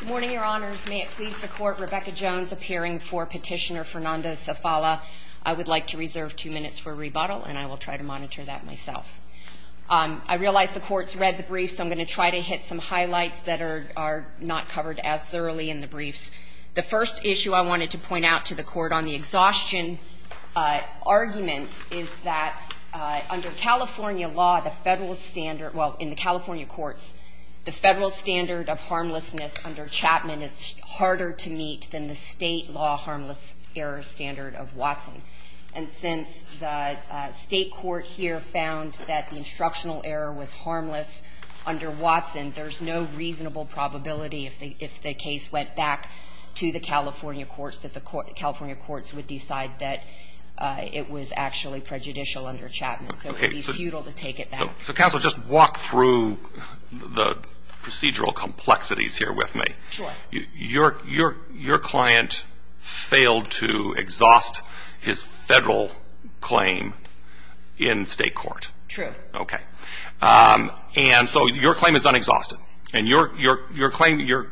Good morning, Your Honors. May it please the Court, Rebecca Jones appearing for Petitioner Fernando Zavala. I would like to reserve two minutes for rebuttal, and I will try to monitor that myself. I realize the Court's read the briefs, so I'm going to try to hit some highlights that are not covered as thoroughly in the briefs. The first issue I wanted to point out to the Court on the exhaustion argument is that under California law, the federal in the California courts, the federal standard of harmlessness under Chapman is harder to meet than the state law harmless error standard of Watson. And since the state court here found that the instructional error was harmless under Watson, there's no reasonable probability if the case went back to the California courts that the California courts would decide that it was actually prejudicial under Chapman. So it would be futile to take it back. So counsel, just walk through the procedural complexities here with me. Your client failed to exhaust his federal claim in state court. And so your claim is unexhausted. And your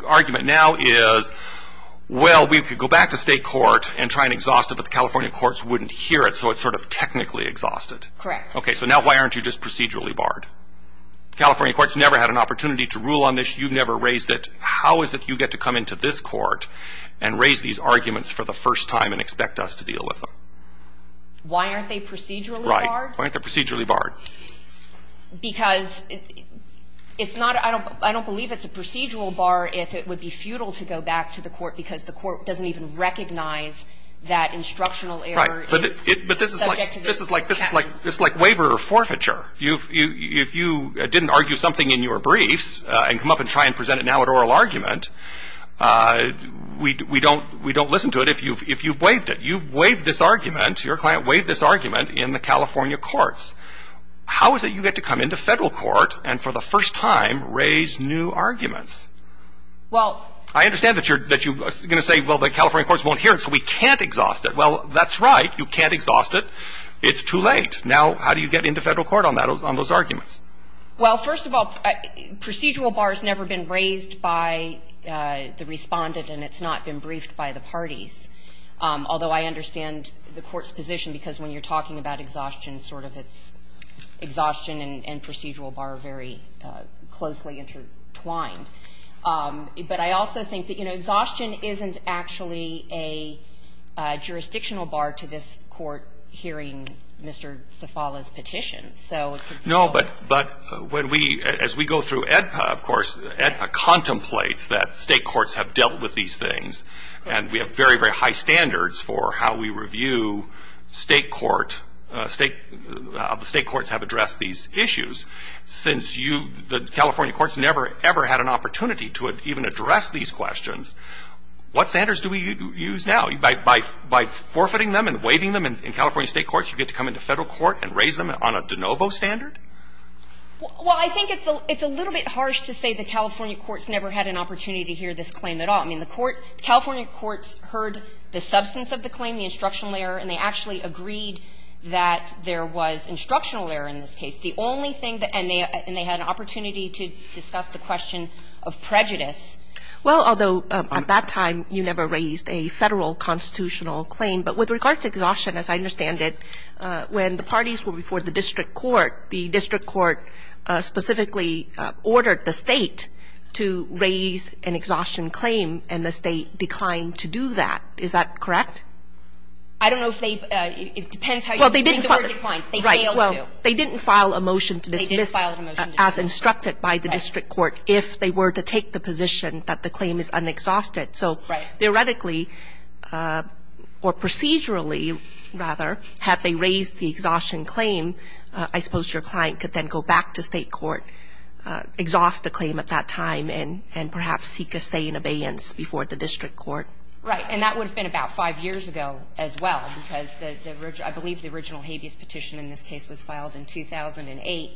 argument now is, well, we could go back to state court and try and exhaust it, but the California courts wouldn't hear it, so it's sort of technically exhausted. So now why aren't you just procedurally barred? The California courts never had an opportunity to rule on this. You've never raised it. How is it you get to come into this court and raise these arguments for the first time and expect us to deal with them? Why aren't they procedurally barred? Right. Why aren't they procedurally barred? Because it's not – I don't believe it's a procedural bar if it would be futile to go back to the court because the court doesn't even recognize that instructional error is subject to the rule of Chapman. This is like waiver forfeiture. If you didn't argue something in your briefs and come up and try and present it now at oral argument, we don't listen to it if you've waived it. You've waived this argument. Your client waived this argument in the California courts. How is it you get to come into federal court and for the first time raise new arguments? Well – I understand that you're going to say, well, the California courts won't hear it, so we can't exhaust it. Well, that's right. You can't exhaust it. It's too late. Now, how do you get into federal court on that, on those arguments? Well, first of all, procedural bar has never been raised by the Respondent, and it's not been briefed by the parties, although I understand the court's position, because when you're talking about exhaustion, sort of it's exhaustion and procedural bar very closely intertwined. But I also think that, you know, exhaustion isn't actually a jurisdictional bar to this Court hearing Mr. Zafala's petition, so it could still be. No, but when we, as we go through AEDPA, of course, AEDPA contemplates that State courts have dealt with these things, and we have very, very high standards for how we review State court, State courts have addressed these issues. Since you, the California courts, never, ever had an opportunity to even address these questions, what standards do we use now? By forfeiting them and waiving them in California State courts, you get to come into federal court and raise them on a de novo standard? Well, I think it's a little bit harsh to say the California courts never had an opportunity to hear this claim at all. I mean, the court, California courts heard the substance of the claim, the instructional error, and they actually agreed that there was instructional error in this case. The only thing that, and they had an opportunity to discuss the question of prejudice. Well, although at that time you never raised a Federal constitutional claim, but with regard to exhaustion, as I understand it, when the parties were before the district court, the district court specifically ordered the State to raise an exhaustion claim, and the State declined to do that. Is that correct? I don't know if they, it depends how you put it. Well, they didn't file a claim. They failed to. They didn't file a motion to dismiss as instructed by the district court if they were to take the position that the claim is unexhausted. So theoretically, or procedurally, rather, had they raised the exhaustion claim, I suppose your client could then go back to State court, exhaust the claim at that time, and perhaps seek a stay in abeyance before the district court. Right. And that would have been about 5 years ago as well, because the original, I believe in this case, was filed in 2008,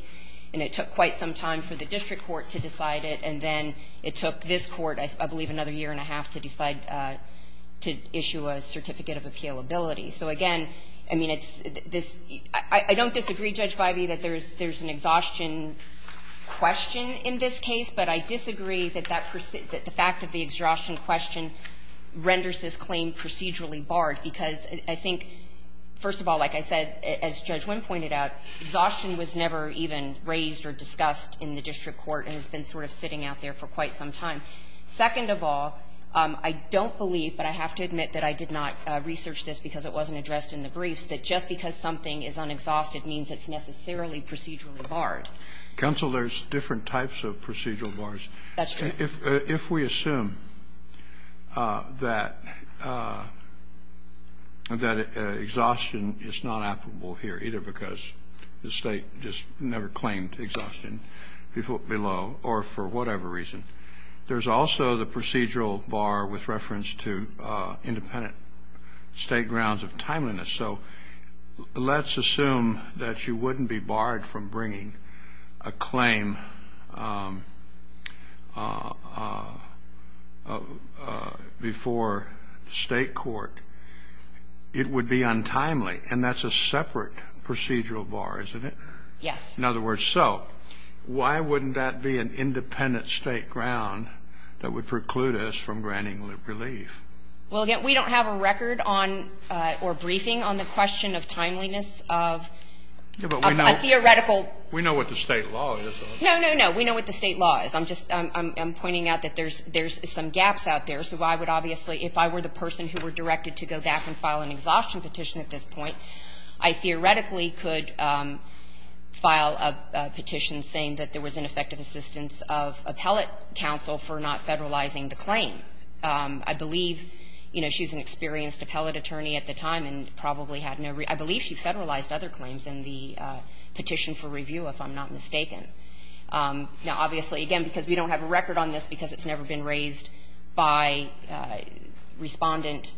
and it took quite some time for the district court to decide it, and then it took this court, I believe, another year and a half to decide to issue a certificate of appealability. So again, I mean, it's this – I don't disagree, Judge Bivey, that there's an exhaustion question in this case, but I disagree that that, that the fact of the exhaustion question renders this claim procedurally barred, because I think, first of all, like I said, as Judge Wynn pointed out, exhaustion was never even raised or discussed in the district court and has been sort of sitting out there for quite some time. Second of all, I don't believe, but I have to admit that I did not research this because it wasn't addressed in the briefs, that just because something is unexhausted means it's necessarily procedurally barred. Kennedy, there's different types of procedural bars. That's true. If we assume that, that exhaustion is not applicable here, either because the State just never claimed exhaustion below or for whatever reason, there's also the procedural bar with reference to independent State grounds of timeliness. So let's assume that you wouldn't be barred from bringing a claim before State court, it would be untimely, and that's a separate procedural bar, isn't it? Yes. In other words, so why wouldn't that be an independent State ground that would preclude us from granting relief? Well, again, we don't have a record on or briefing on the question of timeliness of a theoretical. We know what the State law is. No, no, no. We know what the State law is. I'm just pointing out that there's some gaps out there. So I would obviously, if I were the person who were directed to go back and file an exhaustion petition at this point, I theoretically could file a petition saying that there was ineffective assistance of appellate counsel for not federalizing the claim. I believe, you know, she's an experienced appellate attorney at the time and probably had no real – I believe she federalized other claims in the petition for review, if I'm not mistaken. Now, obviously, again, because we don't have a record on this because it's never been raised by Respondent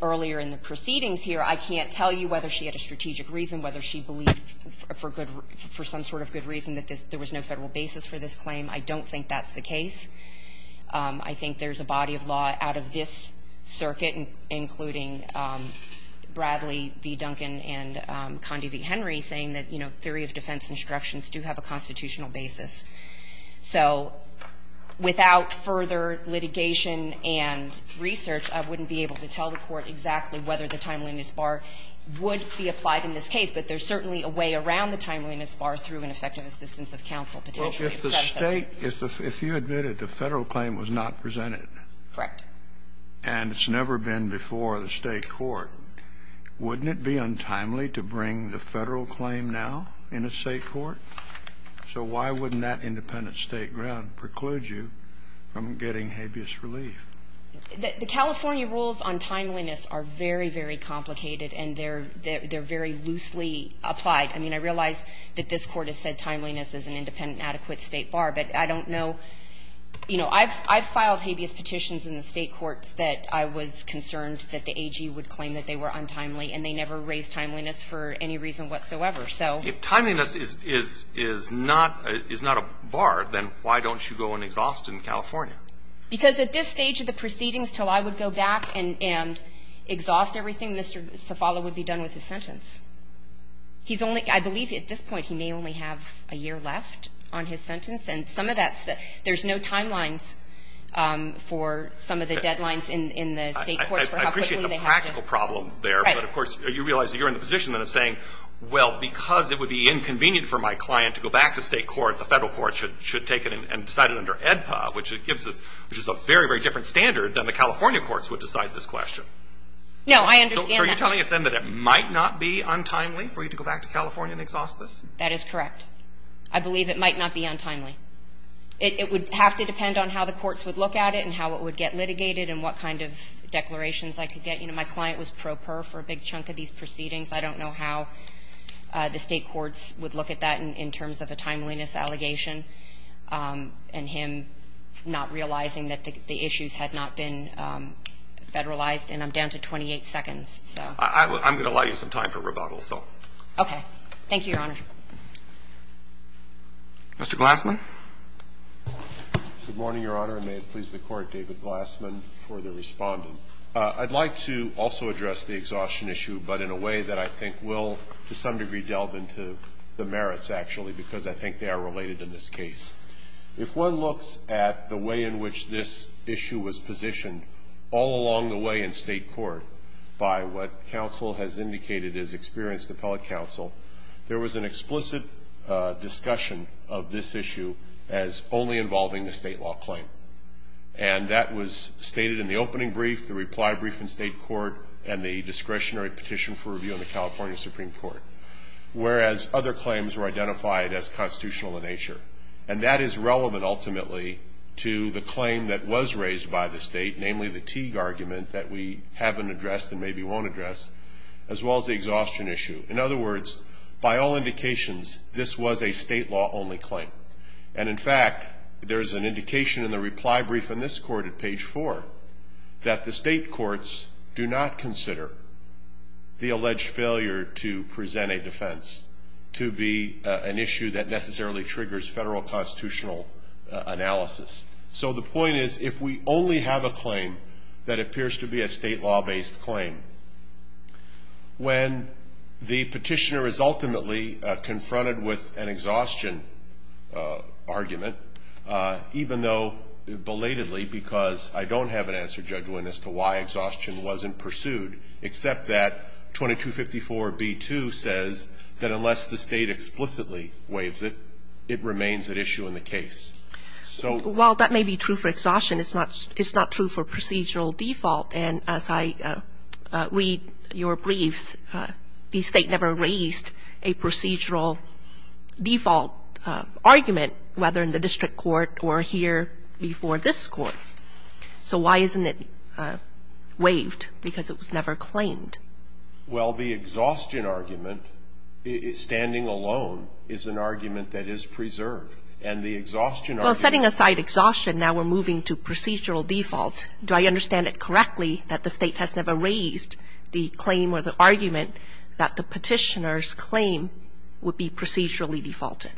earlier in the proceedings here, I can't tell you whether she had a strategic reason, whether she believed for good – for some sort of good reason that there was no Federal basis for this claim. I don't think that's the case. I think there's a body of law out of this circuit, including Bradley v. Duncan and Condi v. Henry, saying that, you know, theory of defense instructions do have a constitutional basis. So without further litigation and research, I wouldn't be able to tell the Court exactly whether the timeliness bar would be applied in this case. But there's certainly a way around the timeliness bar through an effective assistance of counsel, potentially a predecessor. Kennedy, if you admitted the Federal claim was not presented and it's never been before the State court, wouldn't it be untimely to bring the Federal claim now in a State court? So why wouldn't that independent State ground preclude you from getting habeas relief? The California rules on timeliness are very, very complicated, and they're very loosely applied. I mean, I realize that this Court has said timeliness is an independent, an adequate State bar, but I don't know. You know, I've filed habeas petitions in the State courts that I was concerned that the AG would claim that they were untimely, and they never raised timeliness for any reason whatsoever, so. If timeliness is not a bar, then why don't you go and exhaust in California? Because at this stage of the proceedings, till I would go back and exhaust everything, Mr. Cefalo would be done with his sentence. He's only, I believe at this point, he may only have a year left on his sentence, and some of that's, there's no timelines for some of the deadlines in the State courts for how quickly they have to. I appreciate the practical problem there, but of course, you realize you're in the position then of saying, well, because it would be inconvenient for my client to go back to State court, the Federal court should take it and decide it under AEDPA, which gives us, which is a very, very different standard than the California courts would decide this question. No, I understand that. So are you telling us then that it might not be untimely for you to go back to California and exhaust this? That is correct. I believe it might not be untimely. It would have to depend on how the courts would look at it and how it would get litigated and what kind of declarations I could get. You know, my client was pro per for a big chunk of these proceedings. I don't know how the State courts would look at that in terms of a timeliness allegation and him not realizing that the issues had not been federalized, and I'm down to 28 seconds. I'm going to allow you some time for rebuttal, so. Okay. Thank you, Your Honor. Mr. Glassman. Good morning, Your Honor, and may it please the Court, David Glassman, for the Respondent. I'd like to also address the exhaustion issue, but in a way that I think will to some degree delve into the merits, actually, because I think they are related in this case. If one looks at the way in which this issue was positioned all along the way in State court by what counsel has indicated as experienced appellate counsel, there was an explicit discussion of this issue as only involving the State law claim, and that was stated in the opening brief, the reply brief in State court, and the discretionary petition for review in the California Supreme Court, whereas other claims were identified as constitutional in nature. And that is relevant ultimately to the claim that was raised by the State, namely the Teague argument that we haven't addressed and maybe won't address, as well as the exhaustion issue. In other words, by all indications, this was a State law only claim. And in fact, there's an indication in the reply brief in this court at page 4 that the State courts do not consider the alleged failure to present a defense to be an issue that necessarily triggers Federal constitutional analysis. So the point is, if we only have a claim that appears to be a State law-based claim, when the petitioner is ultimately confronted with an exhaustion argument, even though belatedly, because I don't have an answer, Judge Winn, as to why exhaustion wasn't pursued, except that 2254b2 says that unless the State explicitly waives it, it remains an issue in the case. So the point is, while that may be true for exhaustion, it's not true for procedural default, and as I read your briefs, the State never raised a procedural default argument, whether in the district court or here before this court. So why isn't it waived? Because it was never claimed. Well, the exhaustion argument, standing alone, is an argument that is preserved. And the exhaustion argument was never claimed. Well, setting aside exhaustion, now we're moving to procedural default. Do I understand it correctly that the State has never raised the claim or the argument that the petitioner's claim would be procedurally defaulted?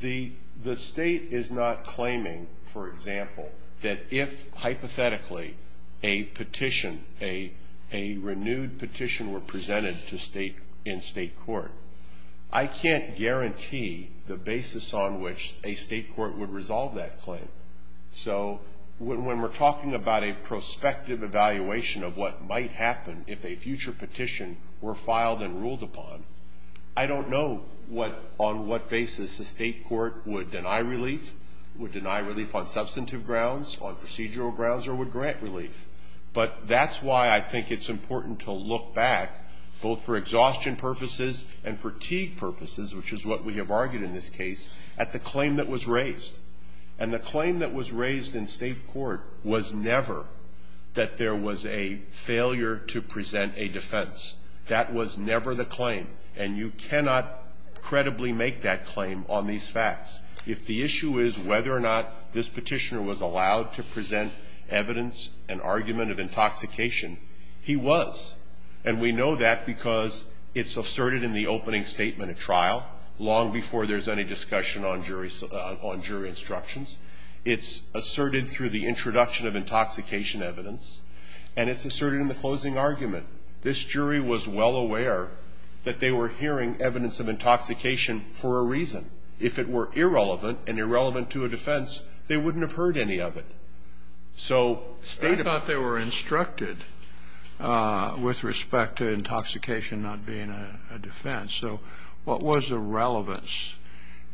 The State is not claiming, for example, that if hypothetically a petition, a renewed petition were presented in State court, I can't guarantee the basis on which a State court would resolve that claim. So when we're talking about a prospective evaluation of what might happen if a future petition were filed and ruled upon, I don't know on what basis a State court would deny relief, would deny relief on substantive grounds, on procedural grounds, or would grant relief. But that's why I think it's important to look back, both for exhaustion purposes and fatigue purposes, which is what we have argued in this case, at the claim that was raised. And the claim that was raised in State court was never that there was a failure to present a defense. That was never the claim. And you cannot credibly make that claim on these facts. If the issue is whether or not this petitioner was allowed to present evidence and argument of intoxication, he was. And we know that because it's asserted in the opening statement at trial long before there's any discussion on jury instructions. It's asserted through the introduction of intoxication evidence. And it's asserted in the closing argument. This jury was well aware that they were hearing evidence of intoxication for a reason. If it were irrelevant and irrelevant to a defense, they wouldn't have heard any of it. So State of the Court. Kennedy. I thought they were instructed with respect to intoxication not being a defense. So what was the relevance?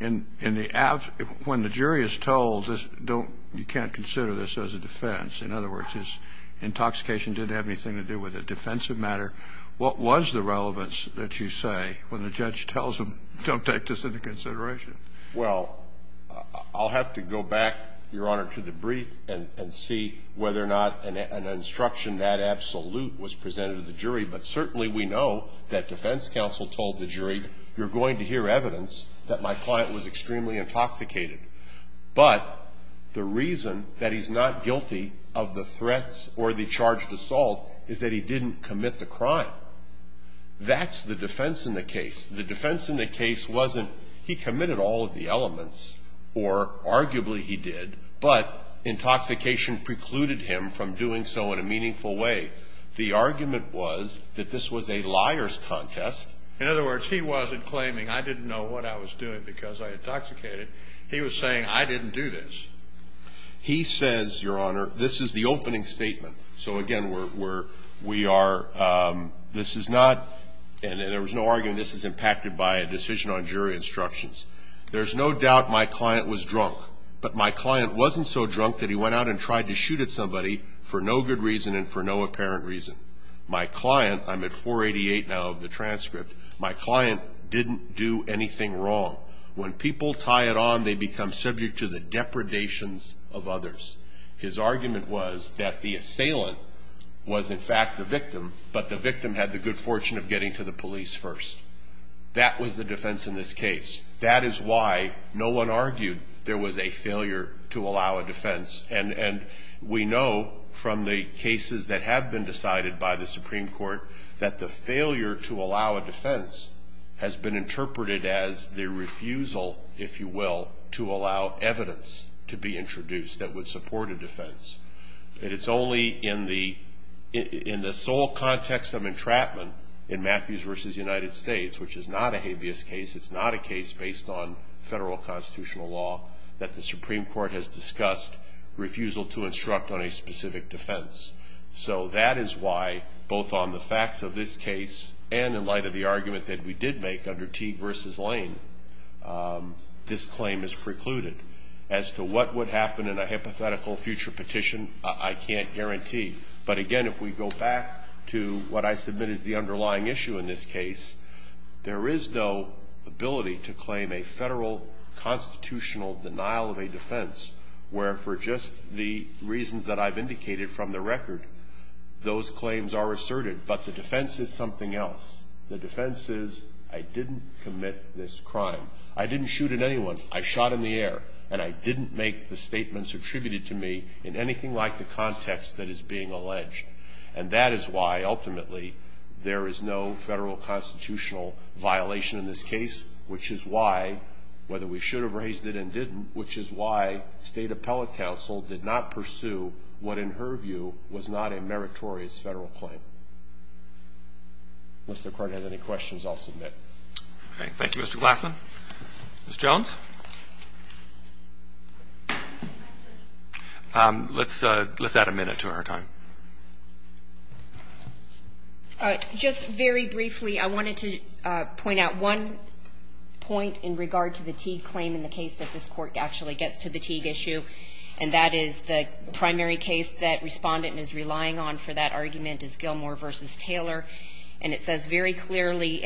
In the absence of when the jury is told this, don't, you can't consider this as a defense. In other words, his intoxication didn't have anything to do with a defensive matter. What was the relevance that you say when the judge tells him, don't take this into consideration? Well, I'll have to go back, Your Honor, to the brief and see whether or not an instruction that absolute was presented to the jury. But certainly we know that defense counsel told the jury, you're going to hear evidence that my client was extremely intoxicated. But the reason that he's not guilty of the threats or the charged assault is that he didn't commit the crime. That's the defense in the case. The defense in the case wasn't he committed all of the elements or arguably he did, but intoxication precluded him from doing so in a meaningful way. The argument was that this was a liar's contest. In other words, he wasn't claiming I didn't know what I was doing because I intoxicated. He was saying I didn't do this. He says, Your Honor, this is the opening statement. So, again, we are, this is not, and there was no argument, this is impacted by a decision on jury instructions. There's no doubt my client was drunk. But my client wasn't so drunk that he went out and tried to shoot at somebody for no good reason and for no apparent reason. My client, I'm at 488 now of the transcript, my client didn't do anything wrong. When people tie it on, they become subject to the depredations of others. His argument was that the assailant was in fact the victim, but the victim had the good fortune of getting to the police first. That was the defense in this case. That is why no one argued there was a failure to allow a defense. And we know from the cases that have been decided by the Supreme Court that the failure to allow a defense has been interpreted as the refusal, if you will, to allow evidence to be introduced that would support a defense. And it's only in the sole context of entrapment in Matthews v. United States, which is not a habeas case, it's not a case based on federal constitutional law, that the Supreme Court has discussed refusal to instruct on a specific defense. So that is why, both on the facts of this case and in light of the argument that we did make under Teague v. Lane, this claim is precluded. As to what would happen in a hypothetical future petition, I can't guarantee. But again, if we go back to what I submit is the underlying issue in this case, there is no ability to claim a federal constitutional denial of a defense where, for just the reasons that I've indicated from the record, those claims are asserted. But the defense is something else. The defense is I didn't commit this crime. I didn't shoot at anyone. I shot in the air. And I didn't make the statements attributed to me in anything like the context that is being alleged. And that is why, ultimately, there is no federal constitutional violation in this case, which is why, whether we should have raised it and didn't, which is why State Appellate Counsel did not pursue what, in her view, was not a meritorious federal claim. Unless the Court has any questions, I'll submit. Roberts. Thank you, Mr. Glassman. Ms. Jones. Let's add a minute to our time. Just very briefly, I wanted to point out one point in regard to the Teague claim in the case that this Court actually gets to the Teague issue, and that is the primary case that Respondent is relying on for that argument is Gilmour v. Taylor. And it says very clearly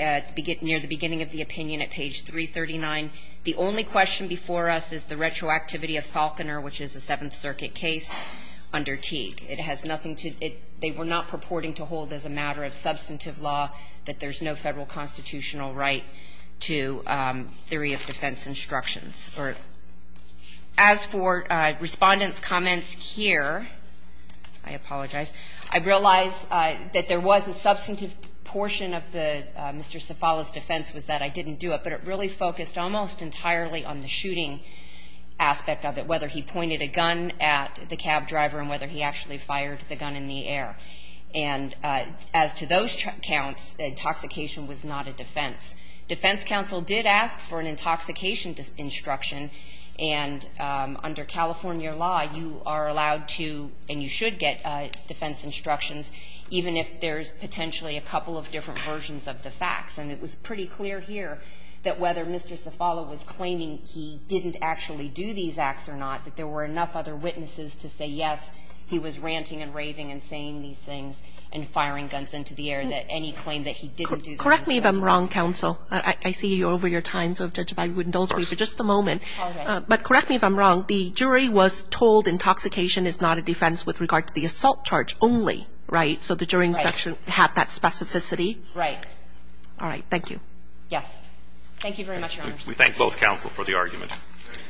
near the beginning of the opinion at page 339, the only question before us is the retroactivity of Falconer, which is a Seventh Circuit case under Teague. It has nothing to they were not purporting to hold as a matter of substantive law that there's no federal constitutional right to theory of defense instructions. As for Respondent's comments here, I apologize, I realize that there was a substantive portion of Mr. Cefalla's defense was that I didn't do it, but it really focused almost entirely on the shooting aspect of it, whether he pointed a gun at the cab driver and whether he actually fired the gun in the air. And as to those counts, the intoxication was not a defense. Defense counsel did ask for an intoxication instruction, and under California law, you are allowed to and you should get defense instructions, even if there's potentially a couple of different versions of the facts. And it was pretty clear here that whether Mr. Cefalla was claiming he didn't actually do these acts or not, that there were enough other witnesses to say, yes, he was ranting and raving and saying these things and firing guns into the air, that any claim that he didn't do those things was wrong. Correct me if I'm wrong, counsel. I see you're over your time, so if I would indulge you for just a moment. All right. But correct me if I'm wrong. The jury was told intoxication is not a defense with regard to the assault charge only, right? Right. So the jury instruction had that specificity? Right. All right. Thank you. Yes. Thank you very much, Your Honor. We thank both counsel for the argument.